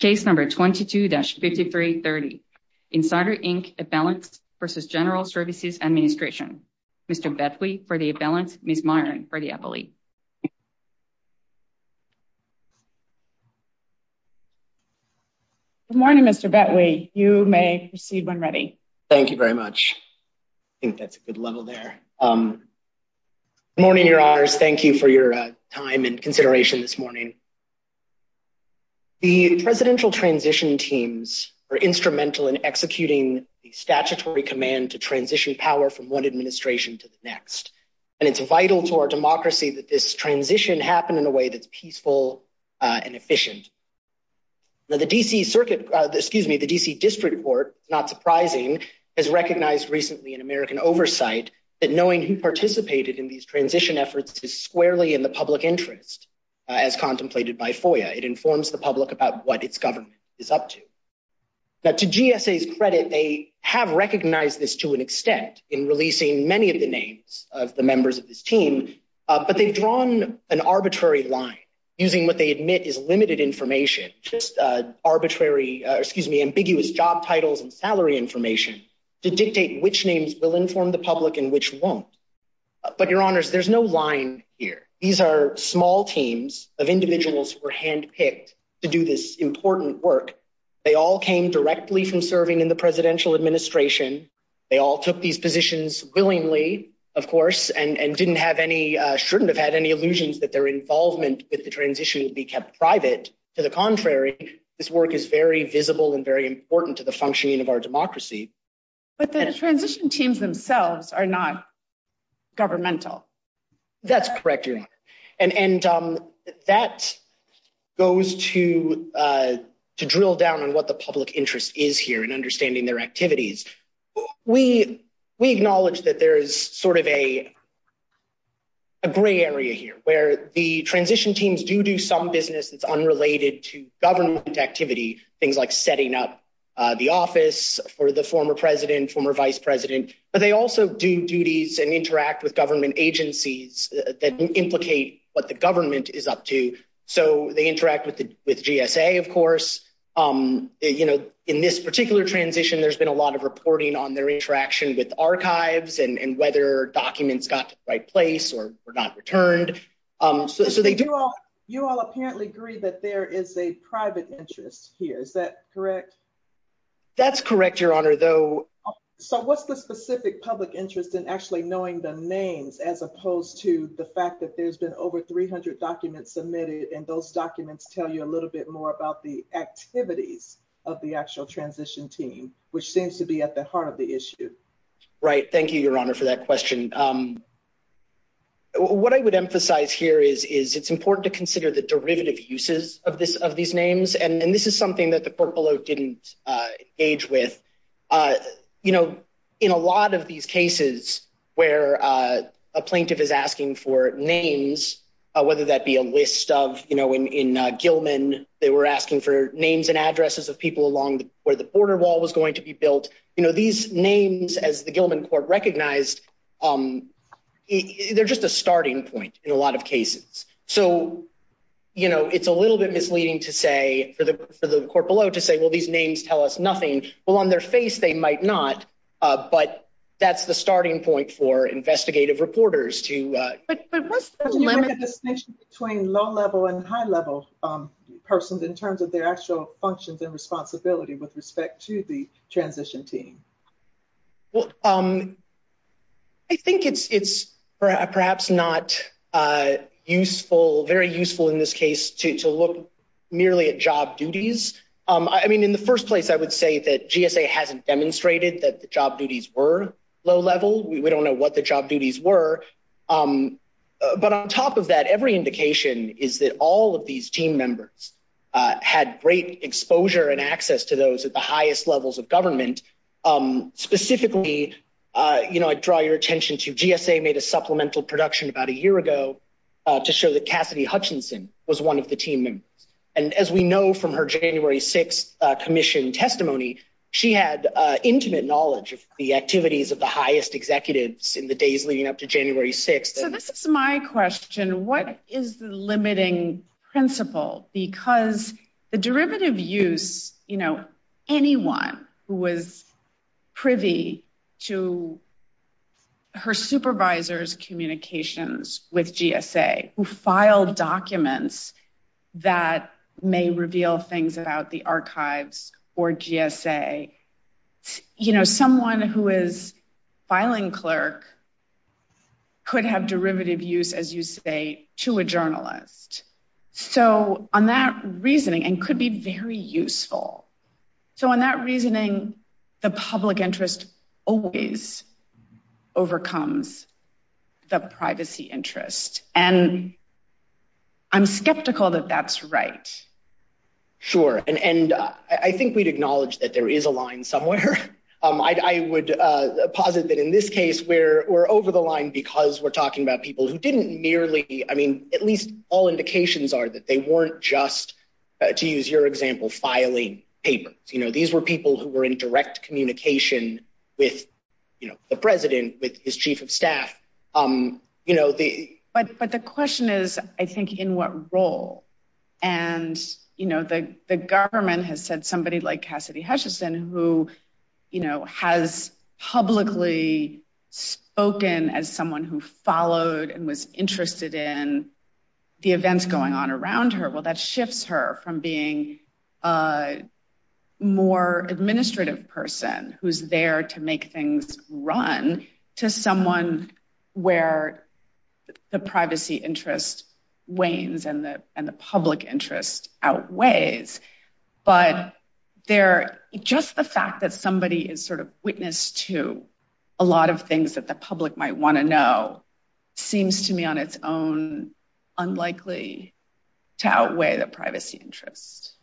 Case number 22-5330. Insider Inc. A Balance versus General Services Administration. Mr. Betwee for the A Balance, Ms. Myron for the Appellee. Good morning, Mr. Betwee. You may proceed when ready. Thank you very much. I think that's a good level there. Good morning, Your Honors. Thank you for your time and consideration this morning. The Presidential Transition Teams are instrumental in executing the statutory command to transition power from one administration to the next. And it's vital to our democracy that this transition happen in a way that's peaceful and efficient. Now the D.C. Circuit, excuse me, the D.C. District Court, not surprising, has recognized recently in American Oversight that knowing who participated in these transition efforts is squarely in the public interest, as contemplated by FOIA. It informs the public about what its government is up to. Now to GSA's credit, they have recognized this to an extent in releasing many of the names of the members of this team, but they've drawn an arbitrary line using what they admit is limited information, just arbitrary, excuse me, ambiguous job titles and salary information to dictate which names will inform the public and which won't. But Your Honors, there's no line here. These are small teams of individuals who were handpicked to do this important work. They all came directly from serving in the presidential administration. They all took these positions willingly, of course, and didn't have any, shouldn't have had any illusions that their involvement with the transition would be kept private. To the contrary, this work is very visible and very important to the functioning of our democracy. But the transition teams themselves are not governmental. That's correct, Your Honor. And that goes to drill down on what the public interest is here and understanding their activities. We acknowledge that there is sort of a gray area here where the transition teams do do some business that's unrelated to government activity, things like setting up the office for the former president, former vice president, but they also do duties and interact with government agencies that implicate what the government is up to. So they interact with the with GSA, of course. You know, in this particular transition, there's been a lot of reporting on their interaction with archives and whether documents got to the right place or were not returned. So they do. You all apparently agree that there is a private interest here. Is that correct? That's correct, Your Honor, though. So what's the specific public interest in actually knowing the names as opposed to the fact that there's been over 300 documents submitted and those documents tell you a little bit more about the activities of the actual transition team, which seems to be at the heart of the issue? Right. Thank you, Your Honor, for that question. What I would emphasize here is it's important to consider the derivative uses of these names. And this is something that didn't age with, you know, in a lot of these cases where a plaintiff is asking for names, whether that be a list of, you know, in Gilman, they were asking for names and addresses of people along where the border wall was going to be built. You know, these names, as the Gilman court recognized, they're just a starting point in a lot of cases. So, you know, it's a little bit to say, well, these names tell us nothing. Well, on their face, they might not. But that's the starting point for investigative reporters to... But what's the limit... Can you make a distinction between low level and high level persons in terms of their actual functions and responsibility with respect to the transition team? Well, I think it's perhaps not useful, very useful in this case to look merely at job duties. I mean, in the first place, I would say that GSA hasn't demonstrated that the job duties were low level. We don't know what the job duties were. But on top of that, every indication is that all of these team members had great exposure and access to those at the highest levels of government. Specifically, you know, I draw your attention to GSA made a and as we know from her January 6th commission testimony, she had intimate knowledge of the activities of the highest executives in the days leading up to January 6th. So this is my question, what is the limiting principle? Because the derivative use, you know, anyone who was that may reveal things about the archives, or GSA, you know, someone who is filing clerk could have derivative use, as you say, to a journalist. So on that reasoning, and could be very useful. So on that reasoning, the public interest always overcomes the privacy interest. And I'm skeptical that that's right. Sure. And I think we'd acknowledge that there is a line somewhere. I would posit that in this case, where we're over the line, because we're talking about people who didn't nearly, I mean, at least all indications are that they weren't just to use your example, filing papers, you know, these were people who were in direct communication with, you know, the president with his chief of staff, um, you know, the, but, but the question is, I think, in what role, and, you know, the government has said somebody like Cassidy Hutchison, who, you know, has publicly spoken as someone who followed and was interested in the events going on around her, well, that shifts her from being a more administrative person who's there to make things run to someone where the privacy interest wanes and the public interest outweighs. But they're just the fact that somebody is sort of witness to a lot of things that the public might want to know, seems to me on its own, unlikely to outweigh the privacy interest.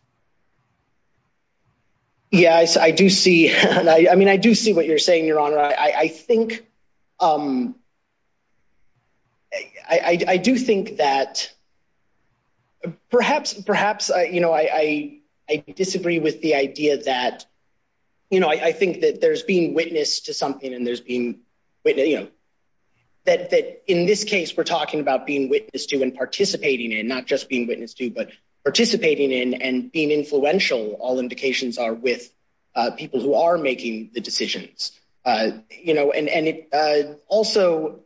Yeah, I do see, I mean, I do see what you're saying, Your Honor, I think, um, I do think that perhaps, perhaps, you know, I, I disagree with the idea that, you know, I think that there's being witness to something and there's being witness, you know, that, that in this case, we're talking about being witness to and participating in not just being witness to, but participating in and, and, and, and being influential, all indications are with people who are making the decisions. You know, and, and it also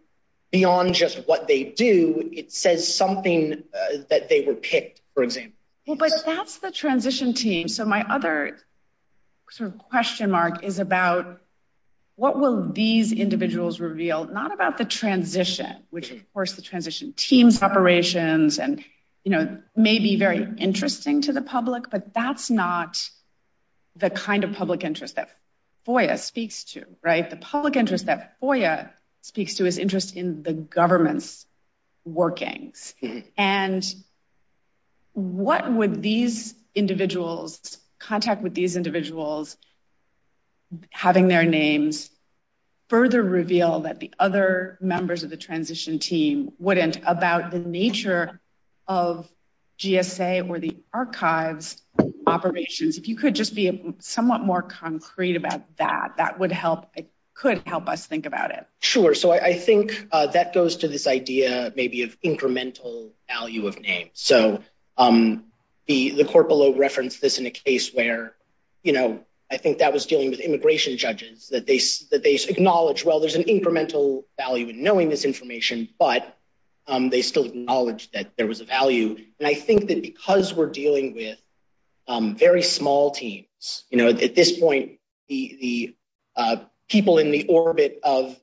beyond just what they do, it says something that they were picked, for example. Well, but that's the transition team. So my other sort of question mark is about what will these individuals reveal? Not about the transition, which of course, the transition team's operations and, you know, may be very interesting to the public, but that's not the kind of public interest that FOIA speaks to, right? The public interest that FOIA speaks to is interest in the government's workings. And what would these individuals, contact with these wouldn't about the nature of GSA or the archives operations, if you could just be somewhat more concrete about that, that would help, it could help us think about it. Sure. So I think that goes to this idea maybe of incremental value of name. So the, the corporal referenced this in a case where, you know, I think that was dealing with immigration judges that they, that they acknowledge, well, there's an incremental value in knowing this information, but they still acknowledge that there was a value. And I think that because we're dealing with very small teams, you know, at this point, the people in the orbit of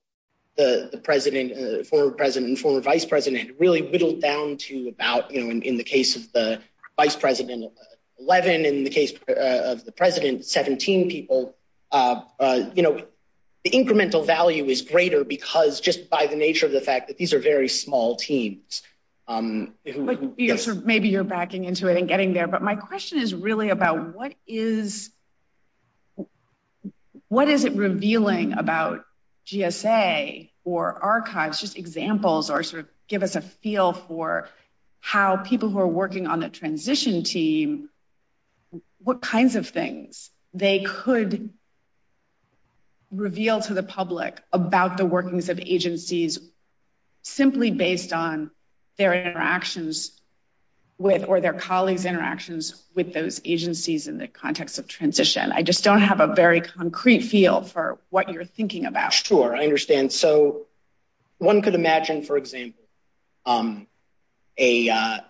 the president, former president and former vice president really whittled down to about, you know, in the case of the vice president 11, in the case of the president, 17 people, you know, the incremental value is greater because just by the nature of the fact that these are very small teams. Maybe you're backing into it and getting there, but my question is really about what is, what is it revealing about GSA or archives just examples, or sort of give us a feel for how people who are working on the transition team, what kinds of things they could reveal to the public about the workings of agencies simply based on their interactions with, or their colleagues interactions with those agencies in the context of transition. I just don't have a very concrete feel for what you're thinking about. Sure. I understand. So one could imagine, for example, a, a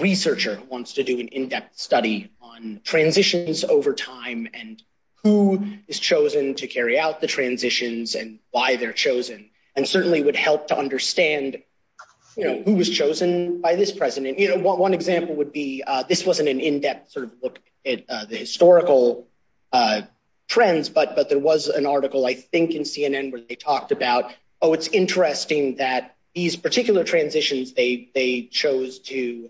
researcher who wants to do an in-depth study on transitions over time and who is chosen to carry out the transitions and why they're chosen, and certainly would help to understand, you know, who was chosen by this president. You know, one example would be, this wasn't an in-depth sort of look at the historical trends, but, but there was an article, I think in CNN where they talked about, oh, it's interesting that these particular transitions, they, they chose to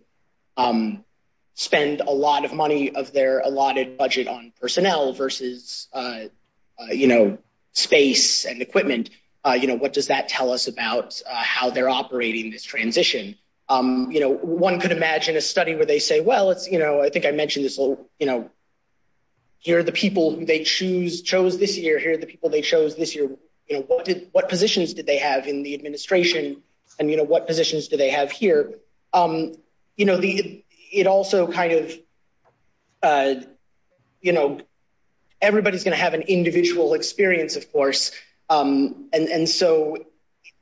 spend a lot of money of their allotted budget on personnel versus, you know, space and equipment. You know, what does that tell us about how they're operating this transition? You know, one could imagine a study where they say, well, it's, you know, I think I mentioned this a little, you know, here are the people who they choose, chose this year, here are the people they chose this year, you know, what did, what positions did they have in administration and, you know, what positions do they have here? You know, the, it also kind of, you know, everybody's going to have an individual experience, of course, and, and so,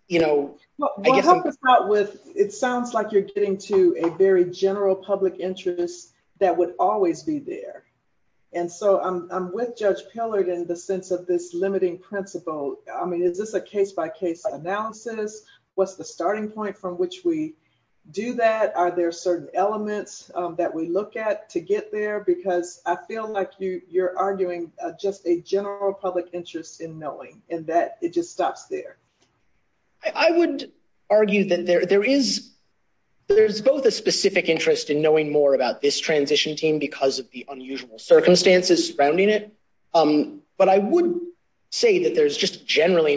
you know, it sounds like you're getting to a very general public interest that would always be there. And so I'm, I'm with Judge Pillard in the sense of this limiting principle. I mean, is this a case-by-case analysis? What's the starting point from which we do that? Are there certain elements that we look at to get there? Because I feel like you, you're arguing just a general public interest in knowing, and that it just stops there. I would argue that there, there is, there's both a specific interest in knowing more about this transition team because of the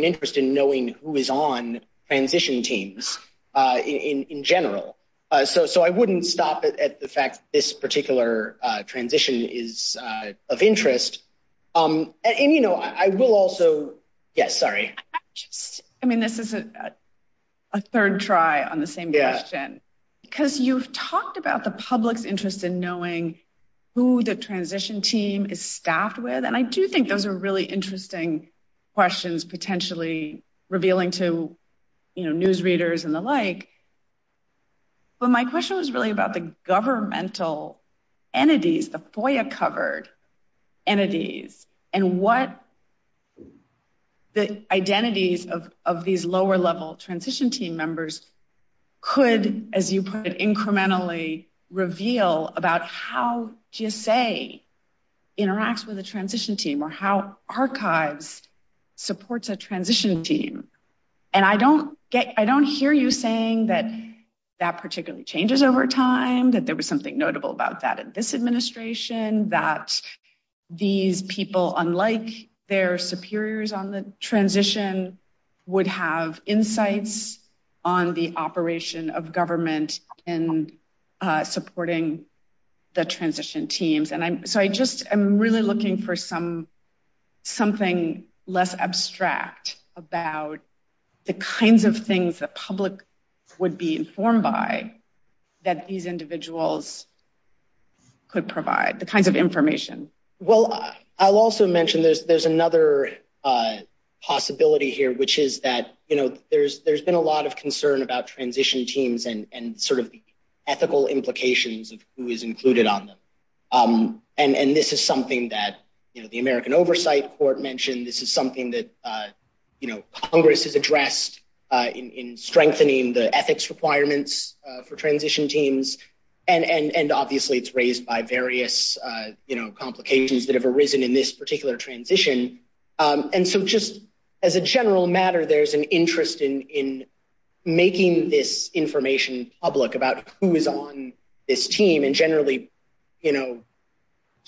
interest in knowing who is on transition teams in general. So, so I wouldn't stop at the fact this particular transition is of interest. And, you know, I will also, yes, sorry. I mean, this is a third try on the same question, because you've talked about the public's interest in knowing who the transition team is staffed with. And I do think those are really interesting questions potentially revealing to, you know, newsreaders and the like. But my question was really about the governmental entities, the FOIA covered entities, and what the identities of, of these lower level transition team members could, as you put it, supports a transition team. And I don't get, I don't hear you saying that that particularly changes over time, that there was something notable about that in this administration, that these people, unlike their superiors on the transition, would have insights on the operation of government in supporting the transition teams. And I'm, so I just, I'm really looking for some, something less abstract about the kinds of things that public would be informed by that these individuals could provide, the kinds of information. Well, I'll also mention there's, there's another possibility here, which is that, you know, there's, there's been a lot of concern about transition teams and sort of ethical implications of who is included on them. And this is something that, you know, the American Oversight Court mentioned. This is something that, you know, Congress has addressed in strengthening the ethics requirements for transition teams. And obviously it's raised by various, you know, complications that have arisen in this particular transition. And so just as a who is on this team and generally, you know,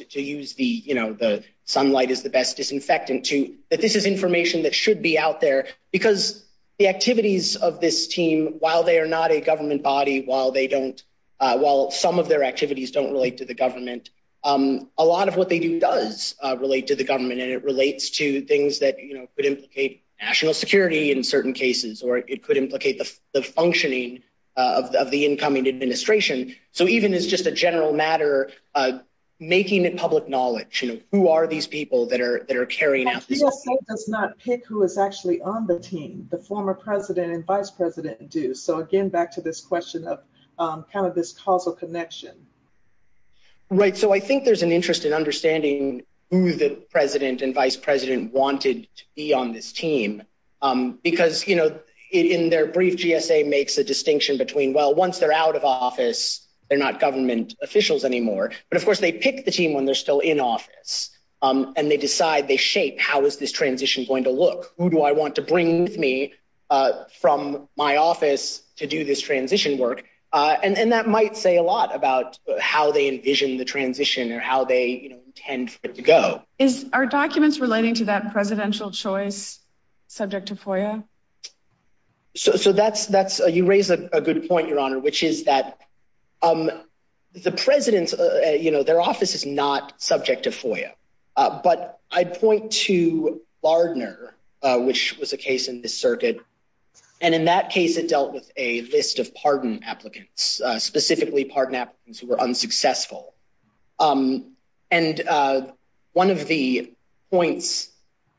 to use the, you know, the sunlight is the best disinfectant to, that this is information that should be out there because the activities of this team, while they are not a government body, while they don't, while some of their activities don't relate to the government, a lot of what they do does relate to the government. And it relates to things that, you know, could implicate national security in certain cases, or it could implicate the functioning of the incoming administration. So even as just a general matter, making it public knowledge, you know, who are these people that are, that are carrying out this. The CSA does not pick who is actually on the team, the former president and vice president do. So again, back to this question of kind of this causal connection. Right. So I think there's an interest in understanding who the president and vice wanted to be on this team. Because, you know, in their brief GSA makes a distinction between, well, once they're out of office, they're not government officials anymore. But of course, they pick the team when they're still in office. And they decide, they shape, how is this transition going to look? Who do I want to bring with me from my office to do this transition work? And that might say a lot about how they envision the transition or how they intend for it to go. Is, are documents relating to that presidential choice subject to FOIA? So, so that's, that's, you raised a good point, Your Honor, which is that the president's, you know, their office is not subject to FOIA. But I'd point to Lardner, which was a case in this circuit. And in that case, it dealt with a list of pardon applicants, specifically pardon applicants who were unsuccessful. And one of the points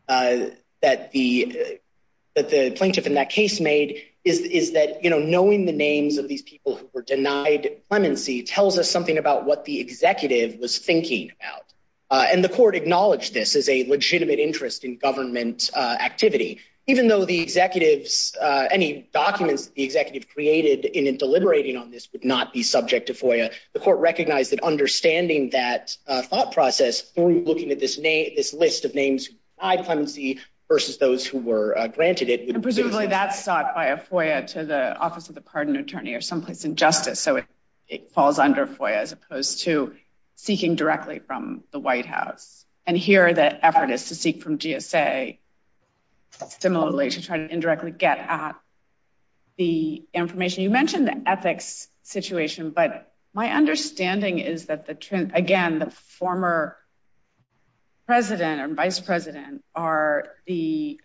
that the, that the plaintiff in that case made is, is that, you know, knowing the names of these people who were denied clemency tells us something about what the executive was thinking about. And the court acknowledged this as a legitimate interest in government activity, even though the executives, any documents the executive created in it, deliberating on this would not be subject to FOIA. The court recognized that understanding that thought process through looking at this name, this list of names who denied clemency versus those who were granted it. Presumably that's sought by a FOIA to the office of the pardon attorney or someplace in justice. So it falls under FOIA as opposed to seeking directly from the White House. And here the effort is to seek from GSA, similarly to try to indirectly get at the information. You mentioned the ethics situation, but my understanding is that the, again, the former president and vice president are the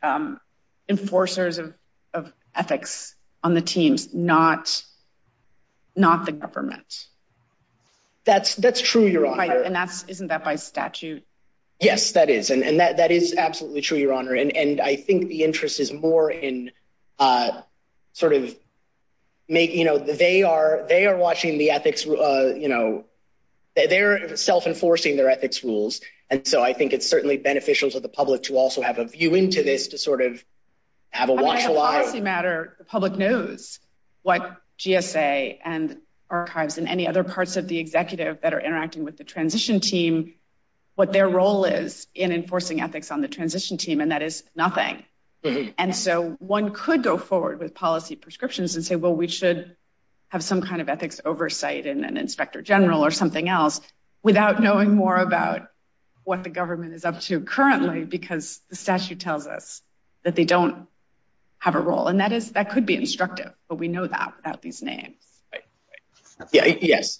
enforcers of, of ethics on the teams, not, not the government. That's, that's true, Your Honor. And that's, isn't that by statute? Yes, that is. And that, that is absolutely true, Your Honor. And, and I think the interest is more in sort of making, you know, they are, they are watching the ethics, you know, they're self enforcing their ethics rules. And so I think it's certainly beneficial to the public to also have a policy matter. The public knows what GSA and archives and any other parts of the executive that are interacting with the transition team, what their role is in enforcing ethics on the transition team. And that is nothing. And so one could go forward with policy prescriptions and say, well, we should have some kind of ethics oversight and an inspector general or something else without knowing more about what the government is up to currently, because the statute tells us that they don't have a role. And that is, that could be instructive, but we know that without these names. Right. Right. Yeah. Yes.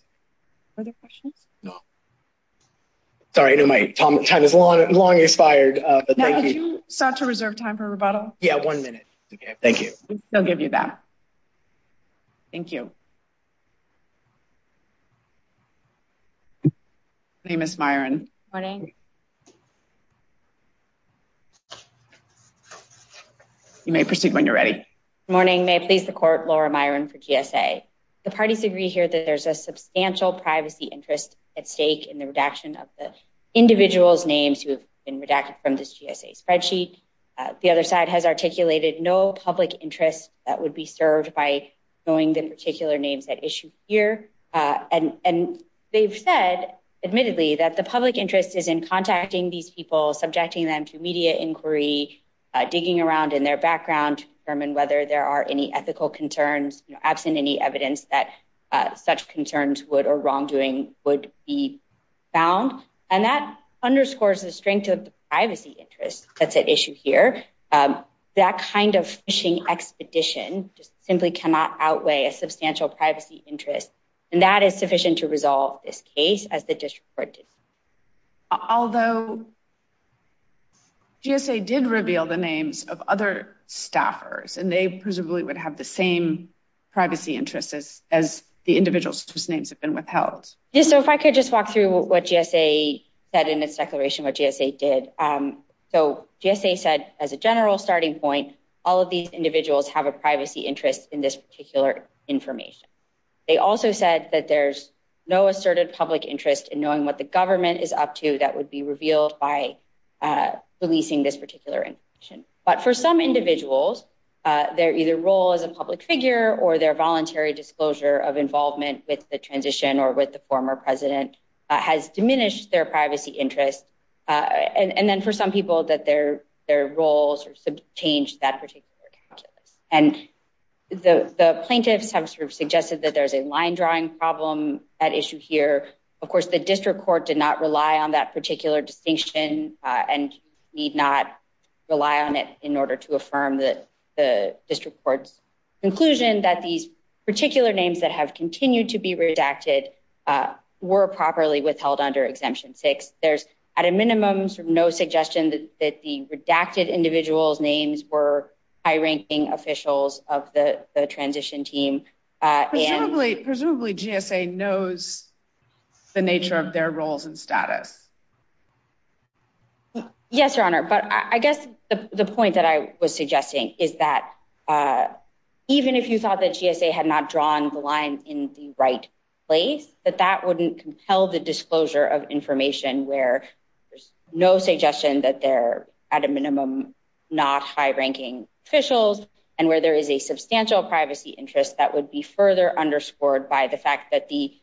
Further questions? No. Sorry. I know my time is long, long expired, but thank you. Now that you sought to reserve time for rebuttal. Yeah. One minute. Okay. Thank you. I'll give you that. Thank you. My name is Myron. Morning. You may proceed when you're ready. Morning. May it please the court, Laura Myron for GSA. The parties agree here that there's a substantial privacy interest at stake in the redaction of the individual's names who have been redacted from this GSA spreadsheet. The other side has articulated no public interest that would be served by knowing the particular names at issue here. And they've said admittedly that the public interest is in contacting these people, subjecting them to media inquiry, digging around in their background to determine whether there are any ethical concerns absent any evidence that such concerns would or wrongdoing would be found. And that underscores the strength of the privacy interest that's at issue here. That kind of fishing expedition just simply cannot outweigh a substantial privacy interest. And that is sufficient to resolve this case as the district court did. Although GSA did reveal the names of other staffers and they presumably would have the same privacy interests as the individuals whose names have been withheld. So if I could just walk through what GSA said in its declaration, what GSA did. So GSA said as a general starting point, all of these individuals have a privacy interest in this particular information. They also said that there's no asserted public interest in knowing what the government is up to that would be revealed by releasing this particular information. But for some individuals, their either role as a public figure or their voluntary disclosure of involvement with the transition or with the former president has diminished their privacy interest. And then for some people that their roles have changed that particular account. And the plaintiffs have suggested that there's a line drawing problem at issue here. Of course, the district court did not rely on that particular distinction and need not rely on it in order to continue to be redacted were properly withheld under exemption six. There's at a minimum, no suggestion that the redacted individuals names were high ranking officials of the transition team. Presumably GSA knows the nature of their roles and status. Yes, your honor. But I guess the point that I was suggesting is that even if you thought that GSA had not drawn the line in the right place, that that wouldn't compel the disclosure of information where there's no suggestion that they're at a minimum, not high ranking officials, and where there is a substantial privacy interest that would be further underscored by the fact that the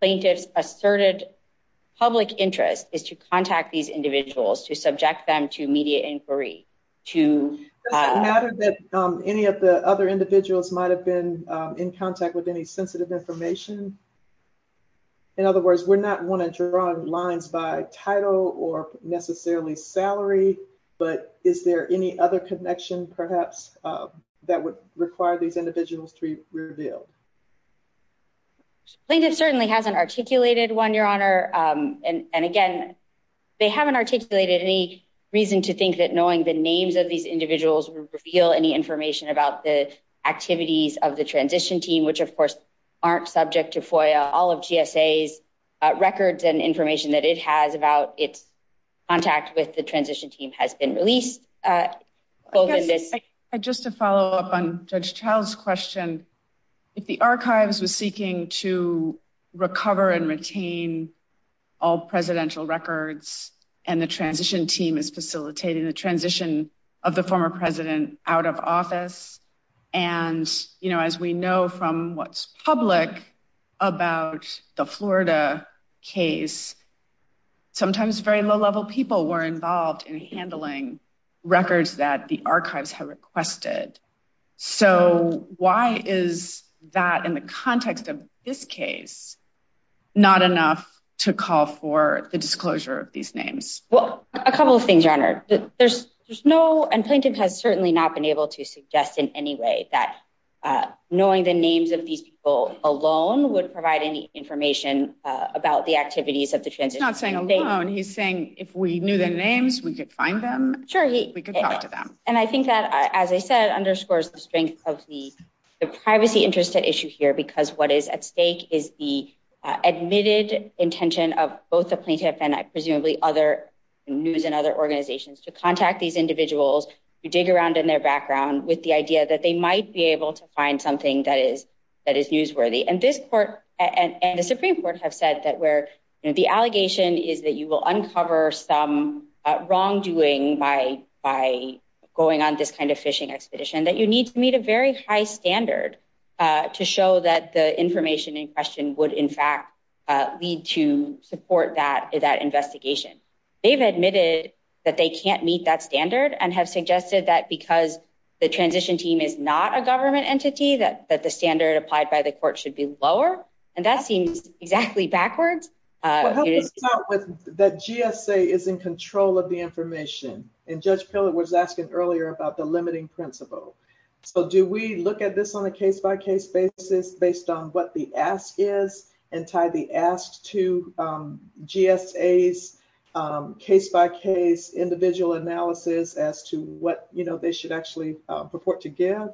plaintiffs asserted public interest is to contact these individuals to subject them to contact with any sensitive information. In other words, we're not want to draw lines by title or necessarily salary. But is there any other connection perhaps that would require these individuals to reveal? Plaintiff certainly hasn't articulated one, your honor. And again, they haven't articulated any reason to think that knowing the names of these individuals would reveal any information about the activities of the transition team, which, of course, aren't subject to FOIA. All of GSA's records and information that it has about its contact with the transition team has been released. I guess just to follow up on Judge Child's question, if the archives was seeking to recover and retain all presidential records and the out of office. And, you know, as we know from what's public about the Florida case, sometimes very low level people were involved in handling records that the archives have requested. So why is that in the context of this case, not enough to call for the disclosure of these names? Well, a couple of things, your honor. There's no, and plaintiff has certainly not been able to suggest in any way that knowing the names of these people alone would provide any information about the activities of the transition team. He's not saying alone. He's saying if we knew their names, we could find them. Sure. We could talk to them. And I think that, as I said, underscores the strength of the privacy interest at issue here, because what is at stake is the intention of both the plaintiff and I presumably other news and other organizations to contact these individuals who dig around in their background with the idea that they might be able to find something that is newsworthy. And this court and the Supreme Court have said that where the allegation is that you will uncover some wrongdoing by going on this kind of fishing expedition that you need to meet a very high standard to show that the information in question would in fact lead to support that investigation. They've admitted that they can't meet that standard and have suggested that because the transition team is not a government entity, that the standard applied by the court should be lower. And that seems exactly backwards. That GSA is in control of the information. And Judge Pillard was asking earlier about the tie the ask to GSA's case by case individual analysis as to what they should actually purport to give.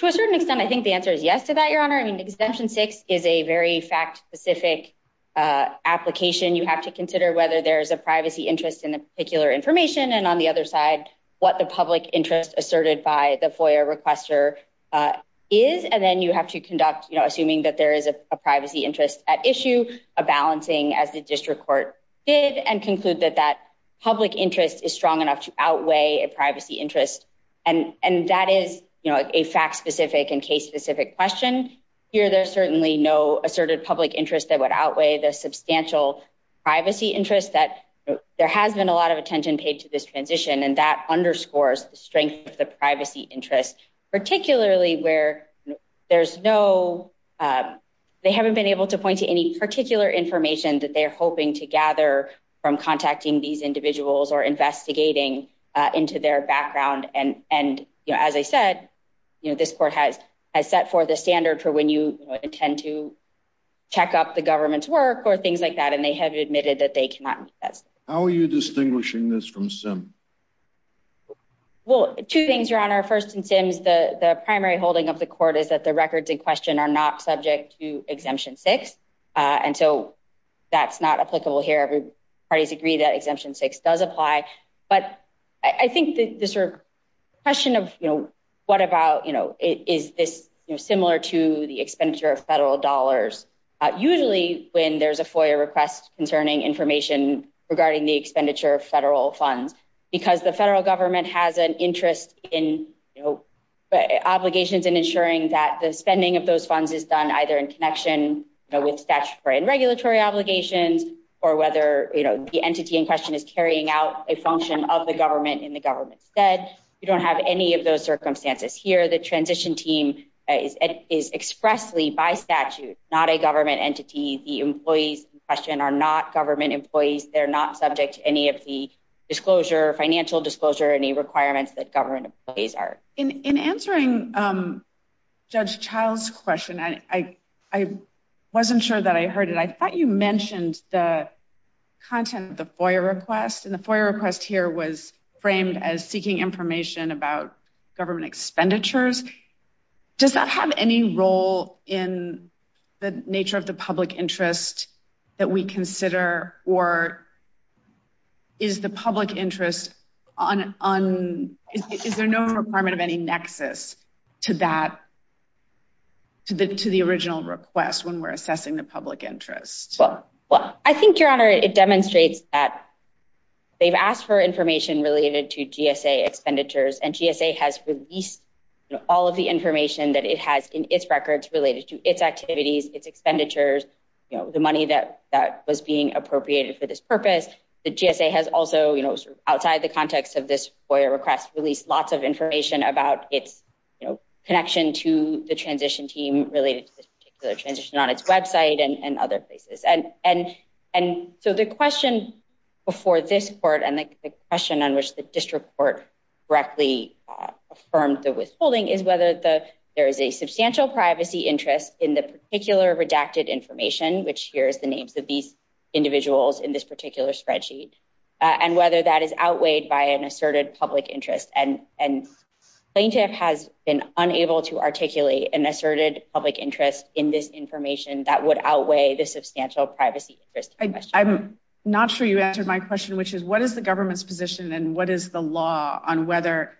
To a certain extent, I think the answer is yes to that, Your Honor. I mean, Exemption 6 is a very fact specific application. You have to consider whether there's a privacy interest in the particular information and on the other side, what the public interest asserted by FOIA requester is. And then you have to conduct, assuming that there is a privacy interest at issue, a balancing as the district court did and conclude that that public interest is strong enough to outweigh a privacy interest. And that is a fact specific and case specific question. Here, there's certainly no asserted public interest that would outweigh the substantial privacy interest that there has been a lot of attention paid to this transition. And that particularly where there's no, they haven't been able to point to any particular information that they're hoping to gather from contacting these individuals or investigating into their background. And, you know, as I said, you know, this court has set for the standard for when you intend to check up the government's work or things like that. And they have admitted that they cannot. How are you distinguishing this from SIM? Well, two things, Your Honor. First, in SIMs, the primary holding of the court is that the records in question are not subject to Exemption 6. And so that's not applicable here. Parties agree that Exemption 6 does apply. But I think the sort of question of, you know, what about, you know, is this similar to the expenditure of federal dollars? Usually when there's a FOIA request concerning information regarding the expenditure of federal funds, because the federal government has an interest in, you know, obligations in ensuring that the spending of those funds is done either in connection with statutory and regulatory obligations, or whether, you know, the entity in question is carrying out a function of the government in the government's stead. You don't have any of those circumstances here. The transition team is expressly by statute, not a government entity. The employees in question are not subject to disclosure, financial disclosure, any requirements that government employees are. In answering Judge Child's question, I wasn't sure that I heard it. I thought you mentioned the content of the FOIA request. And the FOIA request here was framed as seeking information about government expenditures. Does that have any role in the nature of the public interest that we consider, or is the public interest on, is there no requirement of any nexus to that, to the original request when we're assessing the public interest? Well, I think, Your Honor, it demonstrates that they've asked for information related to GSA expenditures, and GSA has released, you know, all of the information that it has in its records related to its activities, its expenditures, you know, the money that was being appropriated for this purpose. The GSA has also, you know, outside the context of this FOIA request, released lots of information about its, you know, connection to the transition team related to this particular transition on its website and other places. And so the question before this court, and the question on which the district court correctly affirmed the withholding, is whether there is a substantial privacy interest in the particular redacted information, which here is the names of these individuals in this particular spreadsheet, and whether that is outweighed by an asserted public interest. And plaintiff has been unable to articulate an asserted public interest in this information that would outweigh the substantial privacy interest. I'm not sure you answered my question, which is what is the government's position and what is the law on whether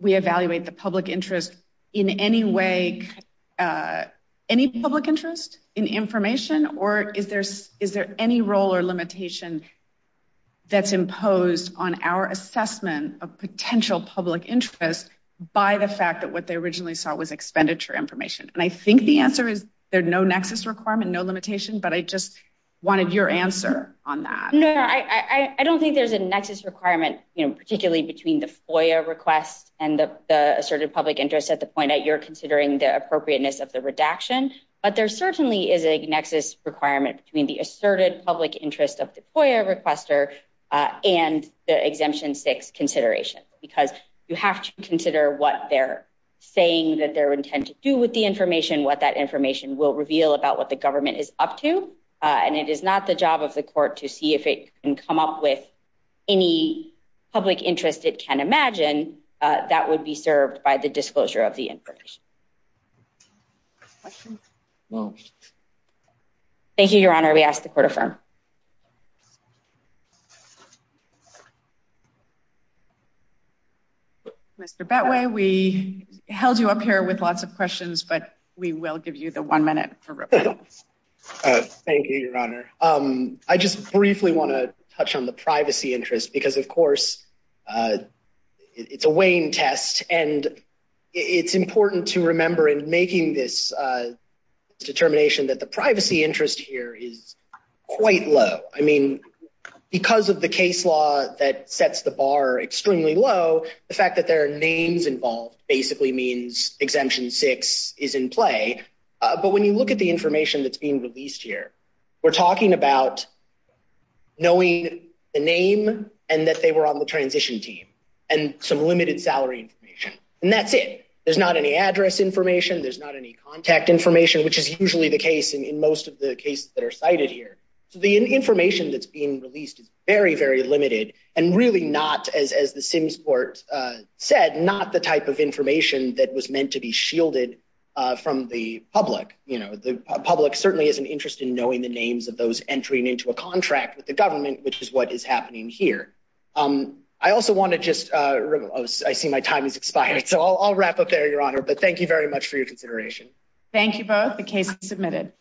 we evaluate the public interest in any way, any public interest in information, or is there any role or limitation that's imposed on our assessment of potential public interest by the fact that what they originally saw was expenditure information? And I think the answer is there's no nexus requirement, no limitation, but I just wanted your answer on that. No, I don't think there's a nexus requirement, you know, particularly between the FOIA request and the asserted public interest at the point that you're considering the appropriateness of the redaction, but there certainly is a nexus requirement between the asserted public interest of the FOIA requester and the Exemption 6 consideration, because you have to consider what they're saying, that their intent to do with the information, what that information will reveal about what the government is up to, and it is not the job of the court to see if it can come up with any public interest it can imagine that would be served by the disclosure of the information. Thank you, Your Honor. We ask the Court affirm. Mr. Betway, we held you up here with lots of questions, but we will give you the one minute. Thank you, Your Honor. I just briefly want to touch on the privacy interest because, of course, it's a Wayne test, and it's important to remember in making this determination that the privacy interest here is quite low. I mean, because of the case law that sets the bar extremely low, the fact that there are names involved basically means Exemption 6 is in play, but when you look at the information that's being released here, we're talking about knowing the name and that they were on the transition team and some limited salary information, and that's it. There's not any address information. There's not any contact information, which is usually the case in most of the cases that are cited here. So the information that's being released is very, very limited and really not, as the Sims Court said, not the type of information that was meant to be shielded from the public. The public certainly isn't interested in knowing the names of those entering into a contract with the government, which is what is happening here. I also want to just... I see my time has expired, so I'll wrap up there, Your Honor, but thank you very much for your consideration. Thank you both. The case is submitted.